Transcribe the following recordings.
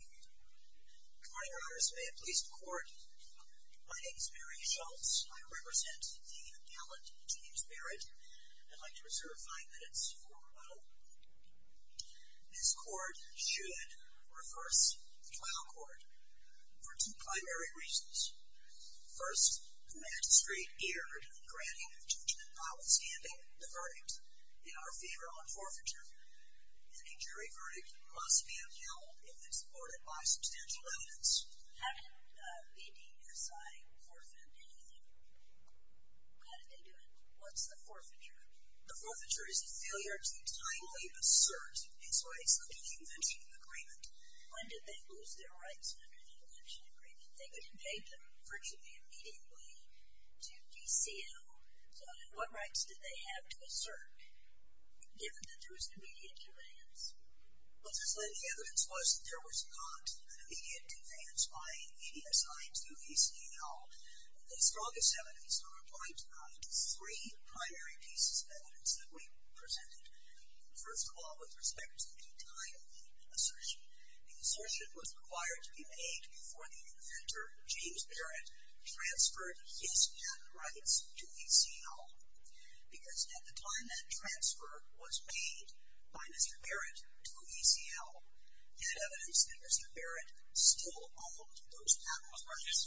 Good morning, your honors. May it please the court, my name is Mary Schultz. I represent the gallant James Barrett. I'd like to reserve five minutes for rebuttal. This court should reverse the trial court for two primary reasons. First, the magistrate erred in granting judgment notwithstanding the verdict in our favor on forfeiture. Any jury verdict must be upheld if it's supported by substantial evidence. How did BDSI forfeit anything? How did they do it? What's the forfeiture? The forfeiture is a failure to timely assert its rights under the invention agreement. When did they lose their rights under the invention agreement? They could have paid them virtually immediately to VCL. What rights did they have to assert, given that there was an immediate demand? Well, just that the evidence was that there was not an immediate demand by BDSI to VCL. The strongest evidence are applied to three primary pieces of evidence that we presented. First of all, with respect to the timely assertion, the assertion was required to be made before the inventor, James Barrett, transferred his patent rights to VCL. Because at the time that transfer was made by Mr. Barrett to VCL, he had evidence that Mr. Barrett still owned those patent rights.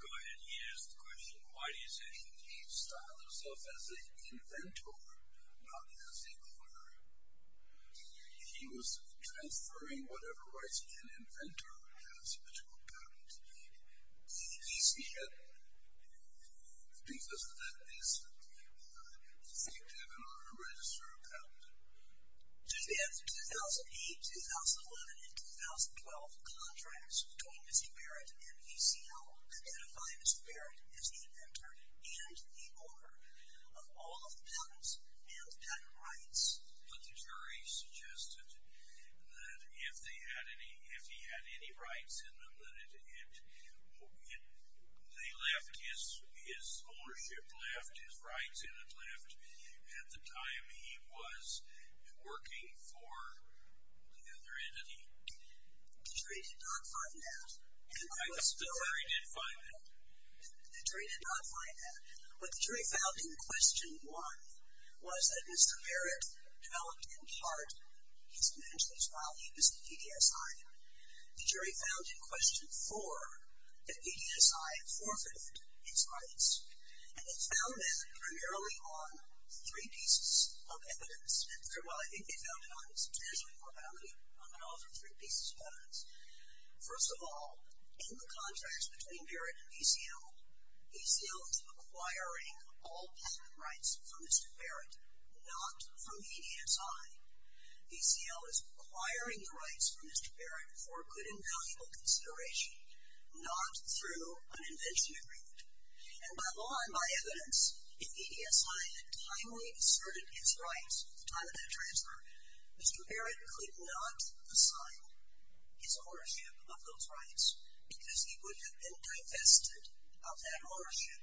Go ahead. He asked the question, why do you say he styled himself as an inventor, not as a owner? He was transferring whatever rights an inventor has to a patent. He said because that is the thing to have in order to register a patent. In 2008, 2011, and 2012, contracts between Mr. Barrett and VCL identify Mr. Barrett as the inventor and the owner of all of the patents and patent rights. But the jury suggested that if he had any rights in them, that his ownership left, his rights in it left, at the time he was working for the other entity. The jury did not find that. The jury did find that. The jury did not find that. What the jury found in question one was that Mr. Barrett developed in part his inventions while he was at VDSI. The jury found in question four that VDSI forfeited its rights. And they found that primarily on three pieces of evidence. Well, I think they found it on its intentional immorality, but also three pieces of evidence. First of all, in the contracts between Barrett and VCL, VCL is acquiring all patent rights from Mr. Barrett, not from VDSI. VCL is acquiring the rights from Mr. Barrett for good and valuable consideration, not through an invention agreement. And by law and by evidence, if VDSI had timely asserted its rights at the time of that transfer, Mr. Barrett could not assign his ownership of those rights because he would have been divested of that ownership.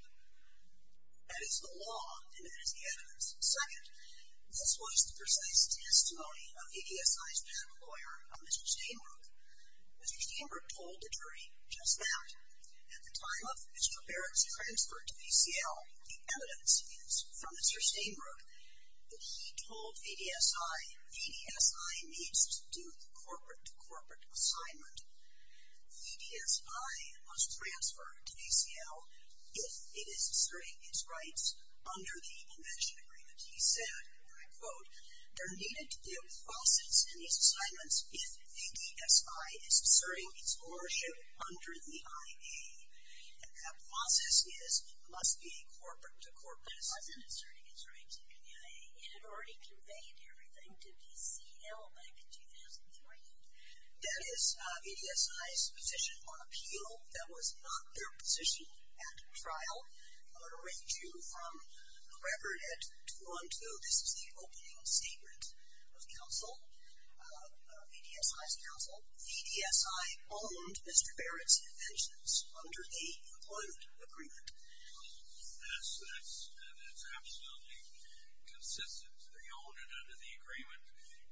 That is the law and that is the evidence. Second, this was the precise testimony of VDSI's patent lawyer, Mr. Steinberg. Mr. Steinberg told the jury just that. At the time of Mr. Barrett's transfer to VCL, the evidence is from Mr. Steinberg that he told VDSI, VDSI needs to do the corporate-to-corporate assignment. VDSI must transfer to VCL if it is asserting its rights under the invention agreement. He said, and I quote, there needed to be a process in these assignments if VDSI is asserting its ownership under the IA. And that process is, must be a corporate-to-corporate assignment. It wasn't asserting its rights under the IA. It had already conveyed everything to VCL back in 2014. That is VDSI's position on appeal. That was not their position at trial. I'm going to read you from the record at 2-1-2. This is the opening statement of counsel, VDSI's counsel. VDSI owned Mr. Barrett's inventions under the employment agreement. Yes, that's absolutely consistent. They owned it under the agreement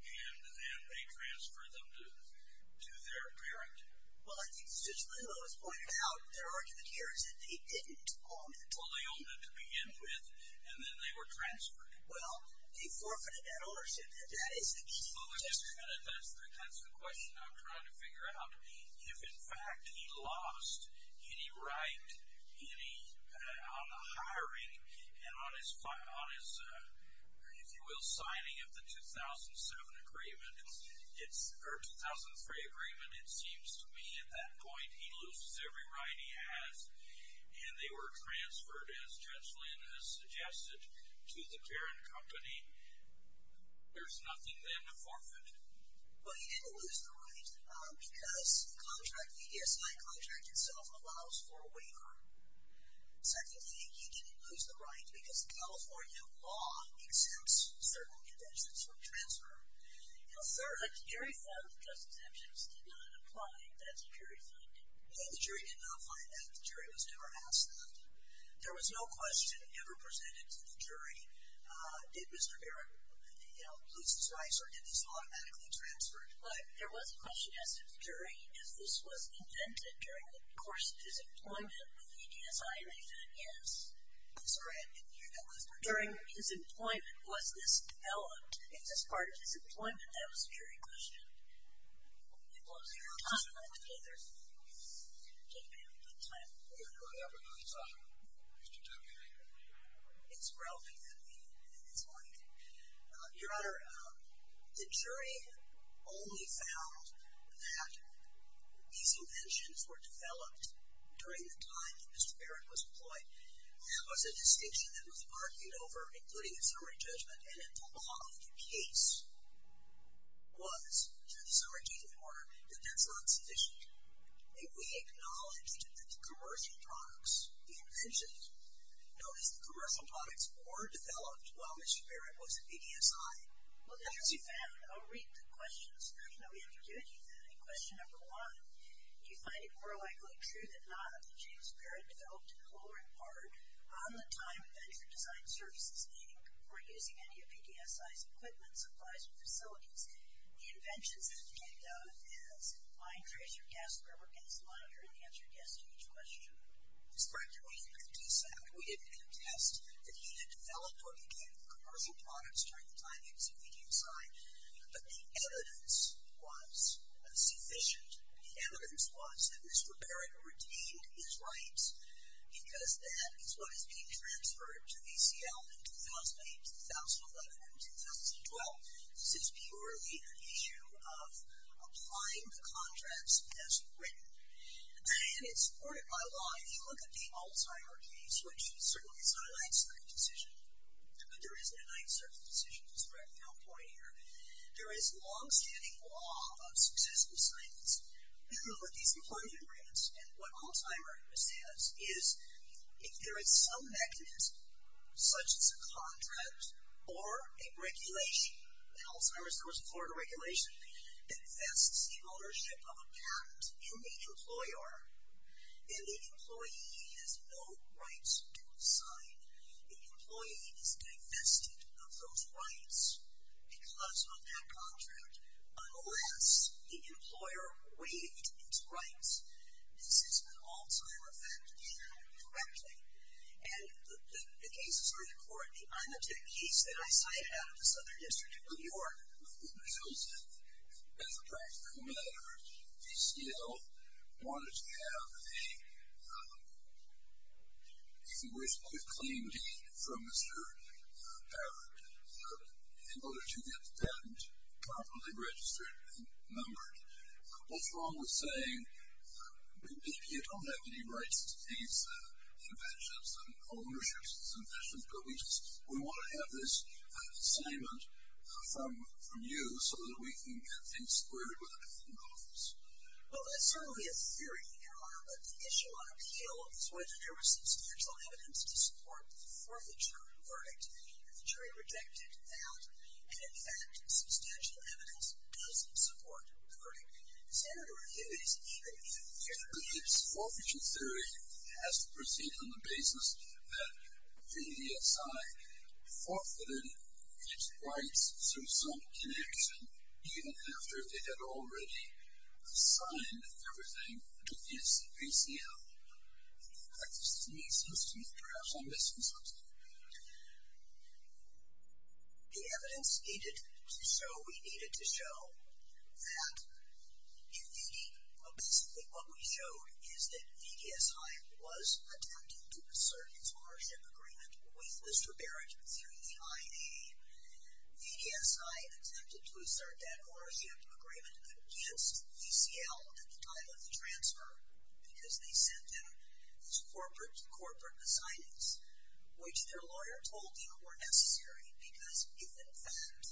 and then they transferred them to their parent. Well, I think as Judge Leal has pointed out, their argument here is that they didn't own it. Well, they owned it to begin with and then they were transferred. Well, they forfeited that ownership. That is the key. Well, Mr. Kennedy, that's the question I'm trying to figure out. If, in fact, he lost any right on the hiring and on his, if you will, signing of the 2007 agreement, or 2003 agreement, it seems to me at that point he loses every right he has and they were transferred, as Judge Lynn has suggested, to the parent company, there's nothing then to forfeit. Well, he didn't lose the right because the contract, the VDSI contract itself, allows for a waiver. Secondly, he didn't lose the right because the California law exempts certain inventions from transfer. Well, sir, the jury found that just exemptions did not apply. That's a jury finding. No, the jury did not find that. The jury was never asked that. There was no question ever presented to the jury, did Mr. Barrett lose his rights or did this automatically transfer? But there was a question asked of the jury, is this was invented during the course of his employment with VDSI and they said yes. I'm sorry, I didn't hear that last part. During his employment, was this developed in this part of his employment? That was a jury question. It was. I'm sorry, I didn't hear that. Take your time. I'm sorry. Mr. Taylor, you may go. It's relevant to me and it's my thing. Your Honor, the jury only found that these inventions were developed during the time that Mr. Barrett was employed. That was a distinction that was argued over, including the summary judgment, and if the law of the case was, through the summary judgment order, that that's not sufficient, may we acknowledge that the commercial products, the inventions, known as the commercial products, were developed while Mr. Barrett was at VDSI? Well, the jury found, I'll read the questions. You know, we haven't given you any. Question number one, do you find it more likely true than not that James Barrett developed, in part, on the time of Venture Design Services, meaning before using any of VDSI's equipment, supplies, or facilities, the inventions that he came down with as line tracer, gas scrubber, gas monitor, and the answer to each question? That's correct. During VDSI, we did have a test that he had developed or began with commercial products during the time he was at VDSI, but the evidence was sufficient. The evidence was that Mr. Barrett retained his rights because that is what is being transferred to VCL in 2018, 2011, and 2012. This is purely an issue of applying the contracts as written. And it's supported by law. If you look at the Alzheimer case, which certainly is not an uncertain decision, but there isn't an uncertain decision. There is long-standing law of successive assignments. If you look at these employment agreements, and what Alzheimer understands is if there is some mechanism, such as a contract or a regulation, in Alzheimer's there was a Florida regulation that vests the ownership of a patent in the employer, and the employee has no rights to assign. The employee is divested of those rights because of that contract, unless the employer waived its rights. This is an Alzheimer fact, if you know it correctly. And the case is very important. The IMATEC case that I cited out of the Southern District of New York, with the results of Bethel Practical Matters, DCL wanted to have a claim deed from Mr. in order to get the patent properly registered and numbered. What's wrong with saying, we don't have any rights to these inventions and ownerships and inventions, but we want to have this assignment from you so that we can get things squared with a patent office? Well, that's certainly a theory, Your Honor, but the issue on appeal is whether there was substantial evidence to support the forfeiture verdict. And the jury rejected that. And in fact, substantial evidence doesn't support the verdict. Senator Hibby's theory. VDSI forfeited its rights through some connection, even after they had already assigned everything to VCL. That seems to me, perhaps I'm missing something. The evidence needed to show, we needed to show, that in theory, basically what we showed is that VDSI was attempting to assert its ownership agreement with Mr. Barrett through the IAA. VDSI attempted to assert that ownership agreement against VCL at the time of the transfer, because they sent them these corporate-to-corporate assignments, which their lawyer told them were necessary, because if in fact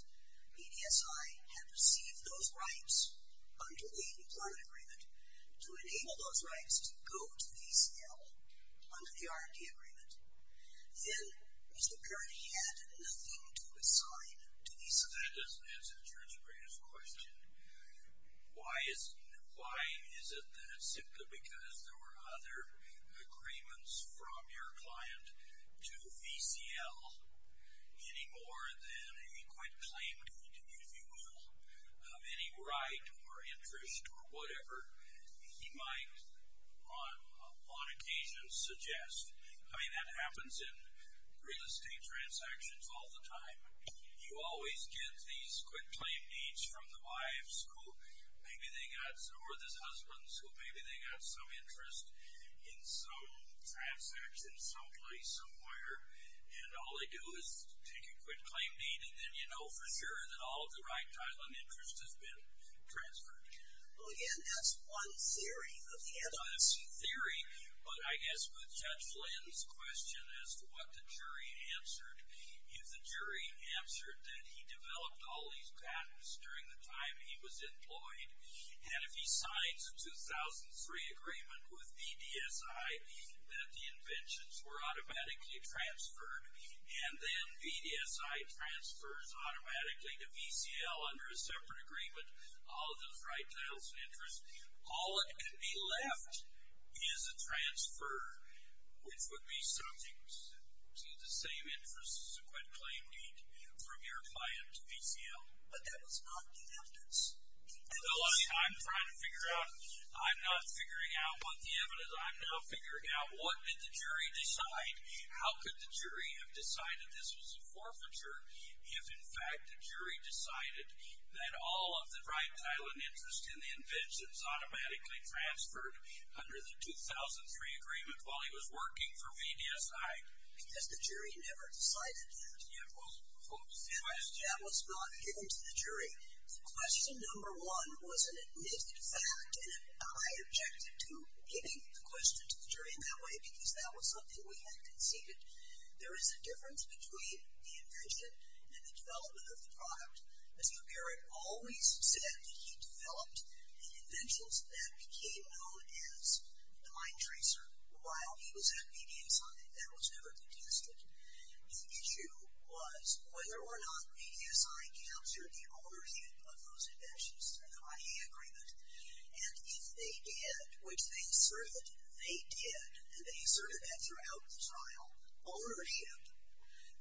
VDSI had received those rights under the employment agreement, to enable those rights to go to VCL under the R&D agreement, then Mr. Barrett had nothing to assign to VCL. That doesn't answer the jury's greatest question. Why is it that simply because there were other agreements from your client to VCL, any more than a quick claim, if you will, of any right or interest or whatever, he might on occasion suggest? I mean, that happens in real estate transactions all the time. You always get these quick claim deeds from the wives, or the husbands, who maybe they got some interest in some transaction someplace, somewhere, and all they do is take a quick claim deed, and then you know for sure that all of the right title and interest has been transferred. Well, again, that's one theory of the anonymous. It's a theory, but I guess with Judge Flynn's question as to what the jury answered, if the jury answered that he developed all these patents during the time he was employed, and if he signs a 2003 agreement with VDSI that the inventions were automatically transferred, and then VDSI transfers automatically to VCL under a separate agreement all of those right titles and interests, all that could be left is a transfer, which would be subject to the same interest as a quick claim deed from your client to VCL. But that was not the evidence. No, I'm trying to figure out. I'm not figuring out what the evidence. I'm now figuring out what did the jury decide? How could the jury have decided this was a forfeiture if, in fact, the jury decided that all of the right title and interest in the inventions automatically transferred under the 2003 agreement while he was working for VDSI? Because the jury never decided that. Yeah, well, the question was not given to the jury. Question number one was an admitted fact, and I objected to giving the question to the jury in that way because that was something we had conceded. There is a difference between the invention and the development of the product. As McGarrett always said, he developed the inventions that became known as the Mind Tracer while he was at VDSI, and that was never contested. The issue was whether or not VDSI captured the ownership of those inventions through the money agreement, and if they did, which they asserted they did, and they asserted that throughout the trial, ownership,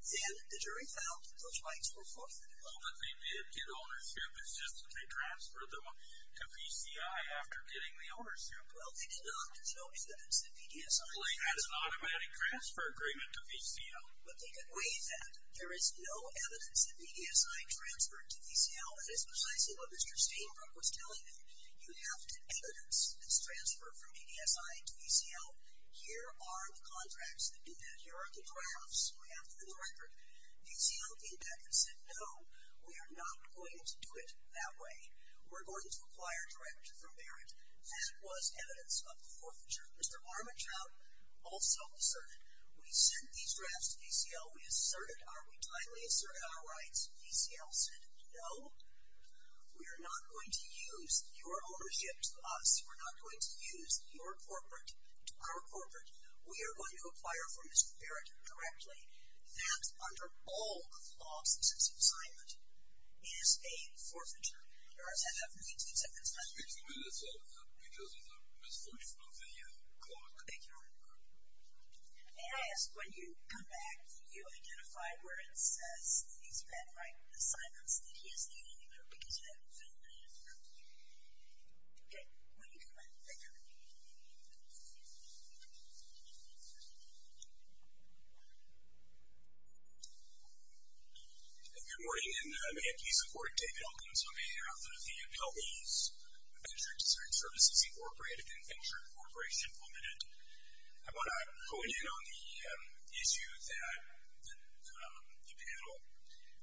then the jury felt those rights were forfeited. Well, but they did get ownership. It's just that they transferred them to VCI after getting the ownership. Well, they did not. There's no evidence in VDSI. Well, he has an automatic transfer agreement to VCL. But they could waive that. There is no evidence in VDSI transferred to VCL, and that's precisely what Mr. Steinbrook was telling me. You have to evidence this transfer from VDSI to VCL Here are the contracts that do that. Here are the drafts we have for the record. VCL came back and said, No, we are not going to do it that way. We're going to acquire direct from Barrett. That was evidence of forfeiture. Mr. Armantrout also asserted, We sent these drafts to VCL. We asserted our, we tightly asserted our rights. VCL said, No, we are not going to use your ownership to us. We're not going to use your corporate to our corporate. We are going to acquire from Mr. Barrett directly that under all the laws of successive assignment, it is a forfeiture. There are seven of them. You can take seven at a time. Excuse me, Mr. Armantrout, because of the misfortune of the clock. Thank you, Mr. Armantrout. May I ask, when you come back, did you identify where it says, he's been writing assignments that he is leaving or because you haven't filled that in? No. Okay. When you come back. Thank you. Good morning. And may it please the court, David Elkins will be here after the appellees. Venture Dessert Services Incorporated and Venture Incorporated implemented. I want to hone in on the issue that the panel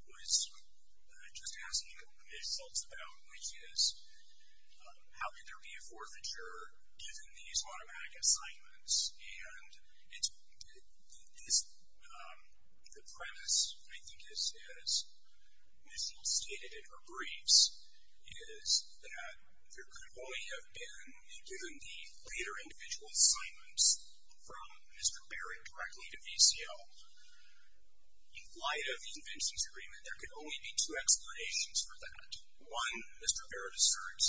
was just asking about, which is how could there be a forfeiture given these automatic assignments? And the premise, I think, as Michelle stated in her briefs, is that there could only have been, given the later individual assignments, from Mr. Barrett directly to VCO. In light of the inventions agreement, there could only be two explanations for that. One, Mr. Barrett asserts,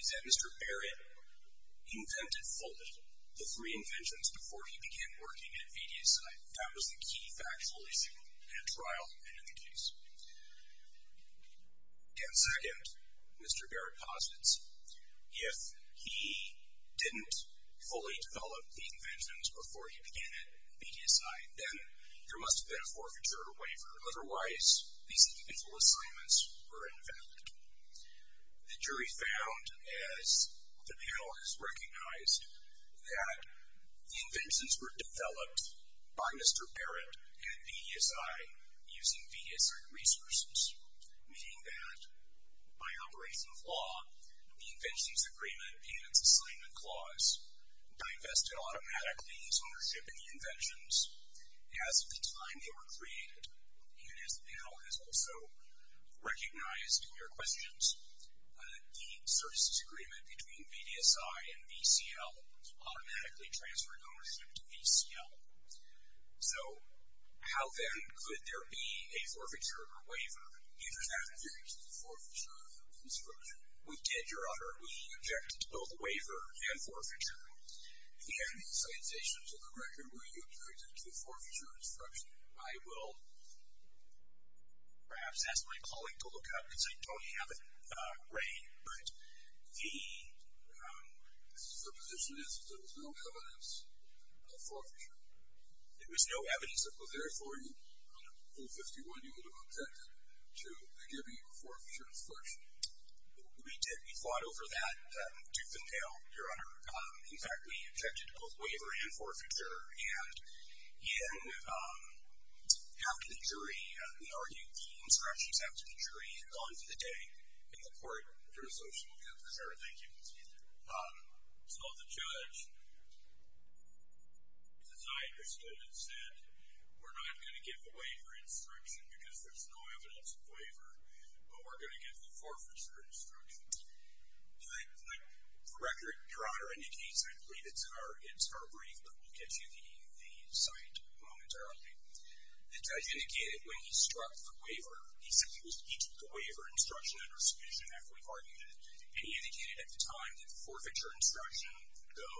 is that Mr. Barrett invented fully the three inventions before he began working at VTSI. That was the key factual issue in a trial and in the case. And second, Mr. Barrett posits, if he didn't fully develop the inventions before he began at VTSI, then there must have been a forfeiture waiver. Otherwise, these individual assignments were invalid. The jury found, as the panel has recognized, that the inventions were developed by Mr. Barrett at VTSI using VTSI resources, meaning that by operation of law, the inventions agreement and its assignment clause divested automatically its ownership in the inventions as of the time they were created. And as the panel has also recognized in your questions, the services agreement between VTSI and VCL automatically transferred ownership to VCL. So how, then, could there be a forfeiture or waiver? You did not object to the forfeiture of the construction. We did, Your Honor. We objected to both waiver and forfeiture. And the accusations are correct in that we objected to the forfeiture construction. I will perhaps ask my colleague to look up, because I don't have it ready. But the position is that there was no evidence of forfeiture. There was no evidence that was there for you. On Rule 51, you would have objected to the giving of a forfeiture construction. We did. We fought over that tooth and nail, Your Honor. In fact, we objected to both waiver and forfeiture. And in after the jury, we argued the instructions after the jury and on to the day in the court. Your Honor, thank you. So the judge, as I understood it, said we're not going to give the waiver instruction, because there's no evidence of waiver. But we're going to give the forfeiture instructions. Do I correct Your Honor any case? I believe it's our brief. But we'll get to the site momentarily. The judge indicated when he struck the waiver, he said he took the waiver instruction under submission after we argued it. And he indicated at the time that the forfeiture instruction would go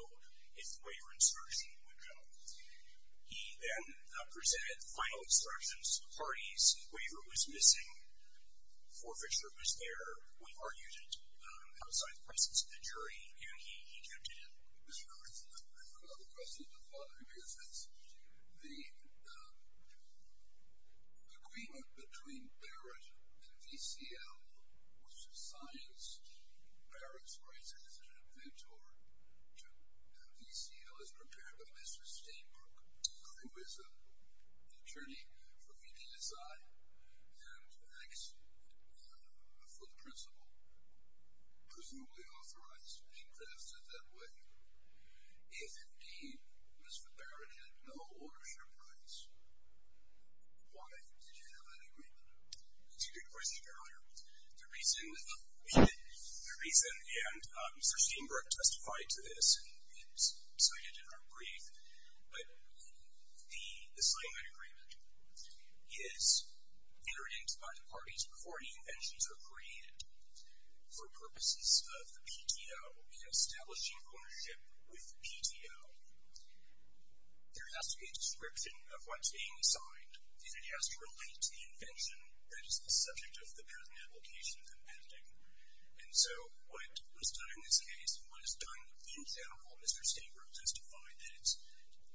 if the waiver instruction would go. He then presented final instructions to the parties. Waiver was missing. We argued it outside the presence of the jury. Mr. Curtis, I forgot the question. The thought of it makes sense. The agreement between Barrett and VCL, which is science, Barrett's rights as an inventor to VCL, is prepared by Mr. Steinberg, who is an attorney for VPSI and acts for the principal, presumably authorized to be drafted that way. If, indeed, Mr. Barrett had no ownership rights, why did you have that agreement? That's a good question, Your Honor. The reason, and Mr. Steinberg testified to this, and he cited it in our brief, but the signing of that agreement is interdicted by the parties before any inventions are created. For purposes of the PTO, establishing ownership with the PTO, there has to be a description of what's being signed, and it has to relate to the invention that is the subject of the present application compending. And so what was done in this case and what is done in general, Mr. Steinberg testified, and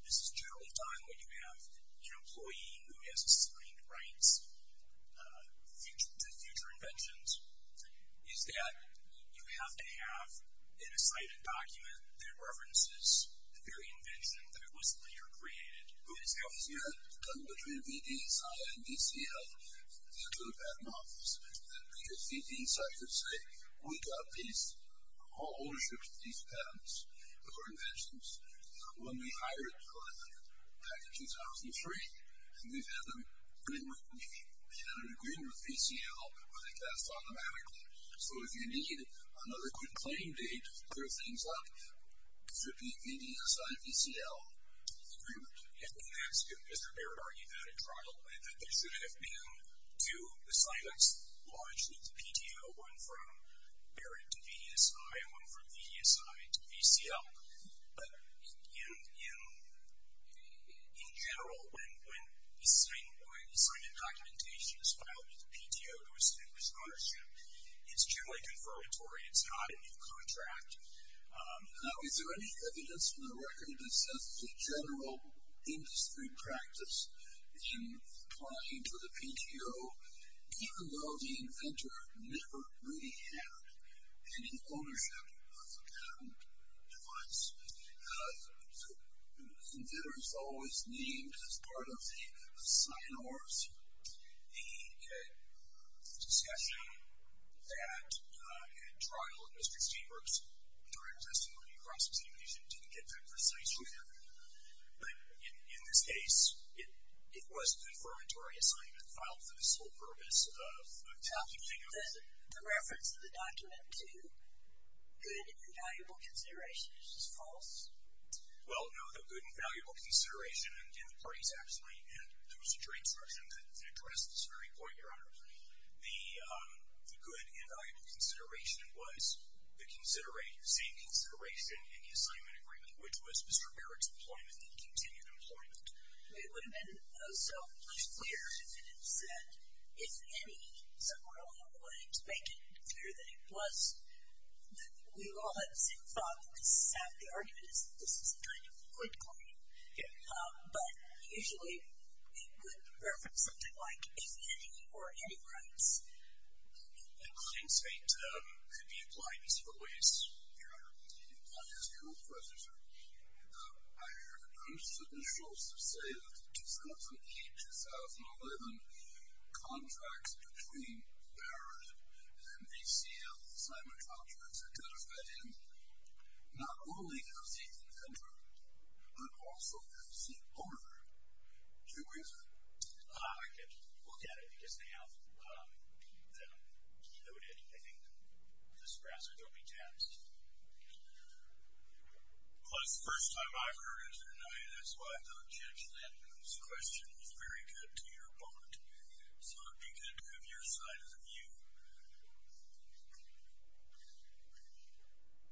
this is general time when you have an employee who has a signed rights to future inventions, is that you have to have an assigned document that references the very invention that was later created. Who is out here? The agreement between VPSI and VCL is to the patent office. Because VPSI could say, we got all ownership of these patents, of our inventions, when we hired them back in 2003, and we've had an agreement with VCL where they passed automatically. So if you need another quick claim date, clear things up, it should be VPSI-VCL agreement. There should have been two assignments, largely with the PTO, one from Barrett to VPSI and one from VPSI to VCL. But in general, when a signed documentation is filed with the PTO to establish ownership, it's generally confirmatory. It's not a new contract. Now, is there any evidence from the record that says the general industry practice in applying to the PTO, even though the inventor never really had any ownership of the patent device? The inventor is always named as part of the sign-off, the discussion that in trial in Mr. Steenberg's direct testimony didn't get that precise either. But in this case, it was a confirmatory assignment filed for this whole purpose of tapping things. The reference to the document to good and valuable considerations is false? Well, no, the good and valuable consideration, and the parties actually, and there was a jury instruction that addressed this very point, Your Honor. The good and valuable consideration was the same consideration in the assignment agreement, which was Mr. Barrett's employment and continued employment. It would have been so much clearer if it had said, if any, so we're only willing to make it clear that it was. We all had the same thought that this is half the argument, that this is a kind of a good claim. But usually, we would reference something like, if any, or any rights. A claim state could be applied in several ways, Your Honor. I'm just going to go first, Your Honor. I heard Mr. Schultz say that in 2008-2011, contracts between Barrett and ACL assignment contracts identified him not only as the inventor, but also as the owner. Do you agree with that? I can look at it, because now that I'm noted, I think the sprassers will be taxed. Well, that's the first time I've heard it, Your Honor. That's why I thought Judge Linden's question was very good to your point. So it would be good to have your side of the view. I'm looking,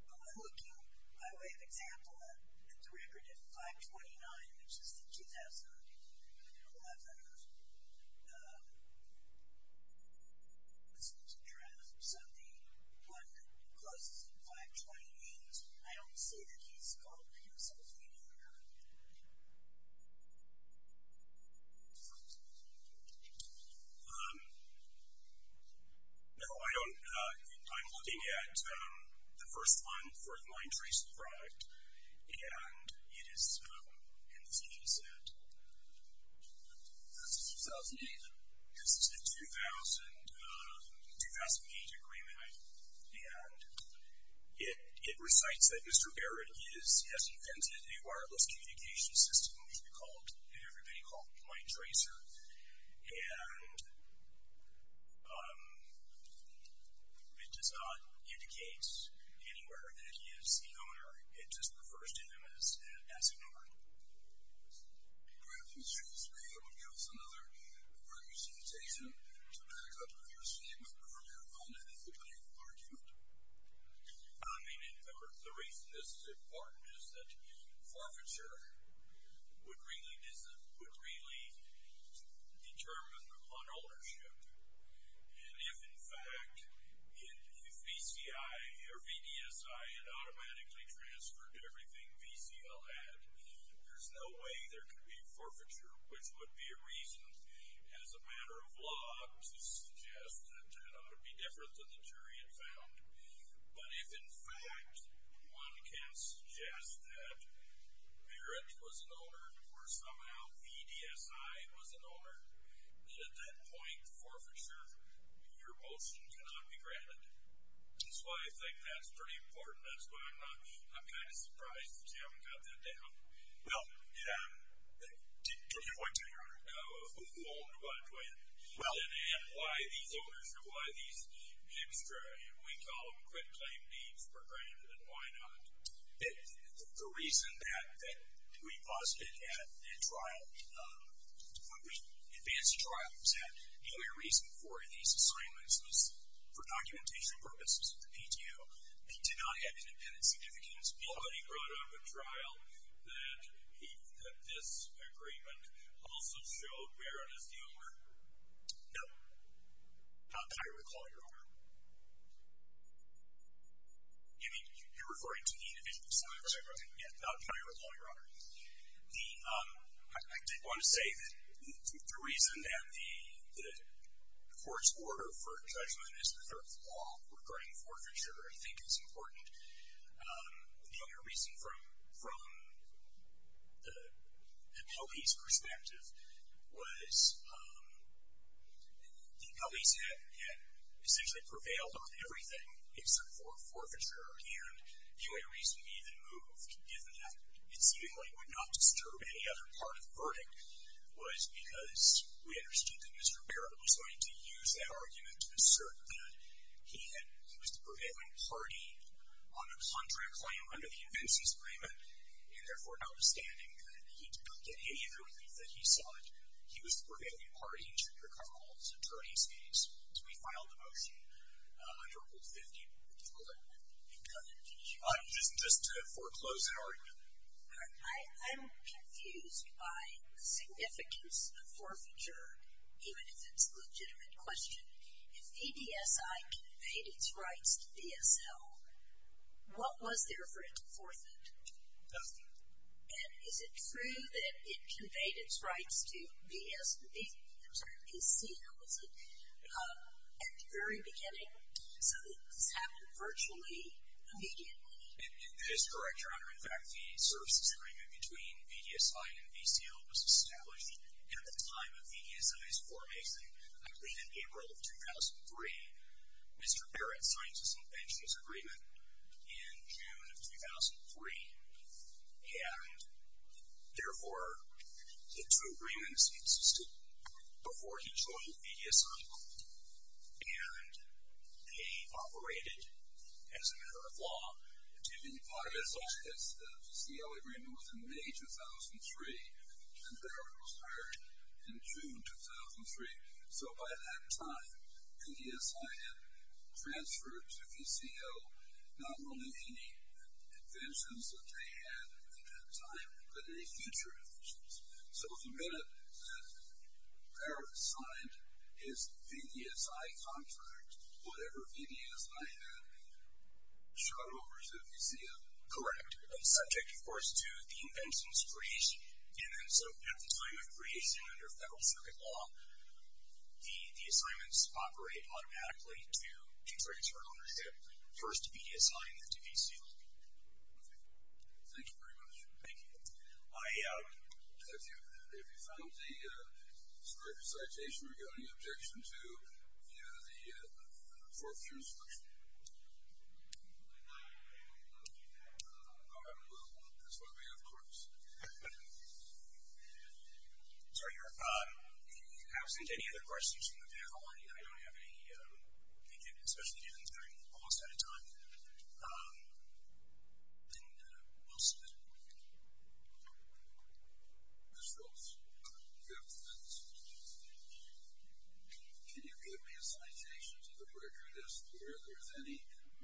by way of example, at the record of 529, which is the 2011 Schultz address, so the one closest to 528. I don't see that he's called himself the owner. Your Honor. No, I don't. I'm looking at the first one, the fourth line trace of the product, and it is in this case at 2008. This is a 2008 agreement, and it recites that Mr. Barrett has invented a wireless communication system, which everybody called Line Tracer, and it does not indicate anywhere that he is the owner. It just refers to him as an owner. Great. Mr. Schultz, maybe that would give us another prior citation to back up your statement earlier on in the plaintiff's argument. I mean, the reason this is important is that forfeiture would really determine an ownership, and if, in fact, if VCI or VDSI had automatically transferred everything VCL had, there's no way there could be forfeiture, which would be a reason as a matter of law to suggest that that ought to be different than the jury had found. But if, in fact, one can suggest that Barrett was an owner or somehow VDSI was an owner, then at that point forfeiture, your motion cannot be granted. That's why I think that's pretty important. That's why I'm kind of surprised that you haven't got that down. Well, to your point, Your Honor, who owned what when? Well. And why these owners or why these extra, we call them quit-claim deeds, were granted, and why not? The reason that we busted at that trial, when we advanced the trial, was that the only reason for these assignments was for documentation purposes of the PTU. They did not have independent significance. Nobody brought up a trial that this agreement also showed Barrett as the owner? No. Not that I recall, Your Honor. You mean, you're referring to the individual assignment? Not that I recall, Your Honor. I did want to say that the reason that the court's order for judgment is the forfeiture, I think, is important. The only reason, from the police perspective, was the police had essentially prevailed on everything except for forfeiture. And the only reason we even moved, given that it seemingly would not disturb any other part of the verdict, was because we understood that Mr. Barrett was going to use that argument to assert that he was the prevailing party on a contract claim under the evidences agreement. And therefore, notwithstanding that he did not get any of the relief that he sought, he was the prevailing party to recover all of his attorney's case. So we filed a motion under Rule 50, which we'll let you come in. Just to foreclose that argument. All right. I'm confused by the significance of forfeiture, even if it's a legitimate question. If VDSI conveyed its rights to VSL, what was there for it to forfeit? Nothing. And is it true that it conveyed its rights to VSL, I'm sorry, VCL, was it, at the very beginning, so that this happened virtually immediately? In this, Your Honor, in fact the services agreement between VDSI and VCL was established at the time of VDSI's formation, I believe in April of 2003. Mr. Barrett signed some pensions agreement in June of 2003. And therefore, the two agreements existed before he joined VDSI. And they operated as a matter of law. VDSI's VCL agreement was in May 2003, and Barrett was hired in June 2003. So by that time, VDSI had transferred to VCL not only any pensions that they had at that time, but any future pensions. So the minute that Barrett signed his VDSI contract, whatever VDSI had shot over to VCL. Correct. And subject, of course, to the invention's creation. And so at the time of creation under federal circuit law, the assignments operate automatically to future insurance ownership, first VDSI and then to VCL. Thank you very much. Thank you. If you found the citation, Mr. Barrett, do you have any objection to the forfeiture instruction? All right. Well, that's what we have, of course. Sir, absent any other questions from the panel, I don't have any. Thank you. Especially given it's getting almost out of time. And we'll see. Ms. Rose. Yes. Can you give me a citation to the record as to whether there's any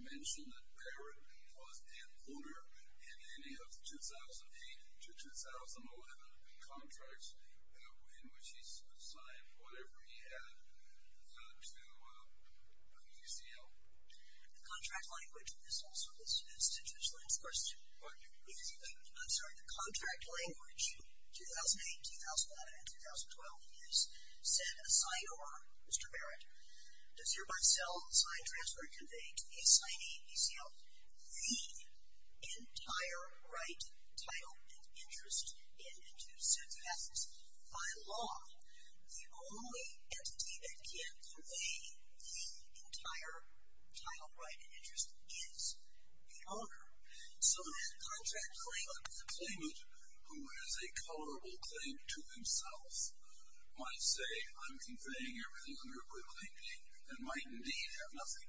mention that Barrett was an owner in any of the 2008 to 2011 contracts in which he's signed whatever he had to VCL? The contract language is also listed as statutory. I'm sorry, the contract language 2008, 2009, and 2012 is set aside or, Mr. Barrett, does your by-cell sign transfer convey to a signing VCL the entire right, title, and interest in due success by law? The only entity that can convey the entire title, right, title, and interest is the owner. So the contract claimant, the claimant who has a colorable claim to himself, might say, I'm conveying everything under a blue painting, and might indeed have nothing.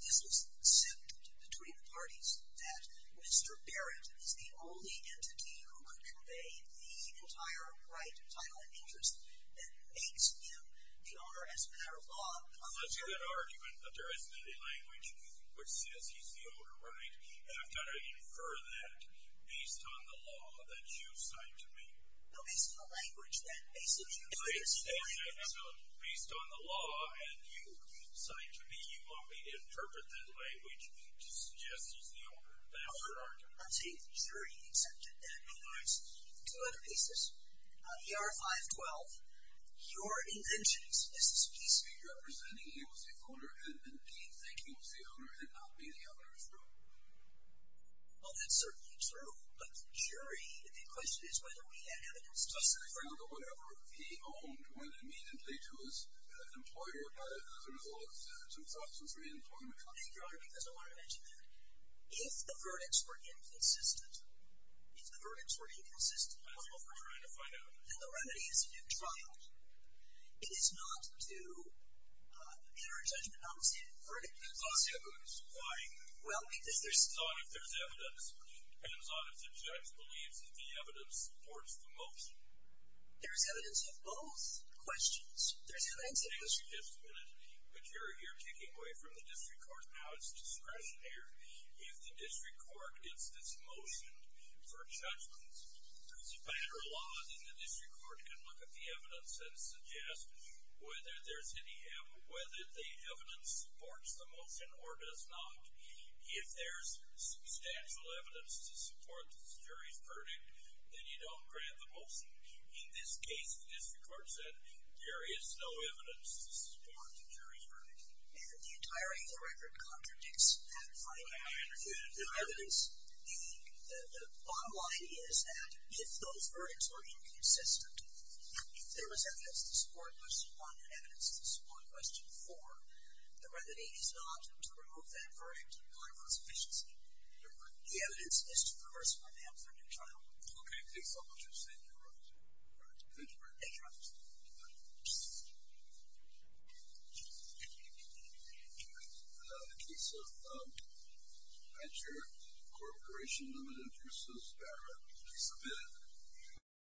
This is assumed between the parties that Mr. Barrett is the only entity who could convey the entire right, title, and interest that makes him the owner as a matter of law. That's a good argument, but there isn't any language which says he's the owner, right? And I've got to infer that based on the law that you've signed to me. No, based on the language that basically you've signed to me. So based on the law that you've signed to me, you want me to interpret that language to suggest he's the owner. That's your argument. I'm saying the jury accepted that. All right. Two other pieces. The R-512, your invention. This is a piece. Well, that's certainly true, but the jury, the question is whether we have evidence to support that. Your Honor, because I want to mention that. If the verdicts were inconsistent, if the verdicts were inconsistent, that's what we're trying to find out. Then the remedy is a new trial. It is not to enter a judgment on the same verdict. On the same verdict. Why? Well, it depends on if there's evidence. It depends on if the judge believes that the evidence supports the motion. There's evidence of both questions. There's evidence of both questions. But you're kicking away from the district court. Now it's discretionary. If the district court gets this motion for a judgment, there's a better law than the district court can look at the evidence and suggest whether there's any evidence, whether the evidence supports the motion or does not. If there's substantial evidence to support the jury's verdict, then you don't grant the motion. In this case, the district court said there is no evidence to support the jury's verdict. And the entirety of the record contradicts that finding. I understand. The evidence, the bottom line is that if those verdicts were inconsistent, if there was evidence to support motion one and evidence to support question four, the remedy is not to remove that verdict. You're going to lose efficiency. The evidence is to reverse what happened in the trial. Okay. Thank you very much. Thank you. Thank you.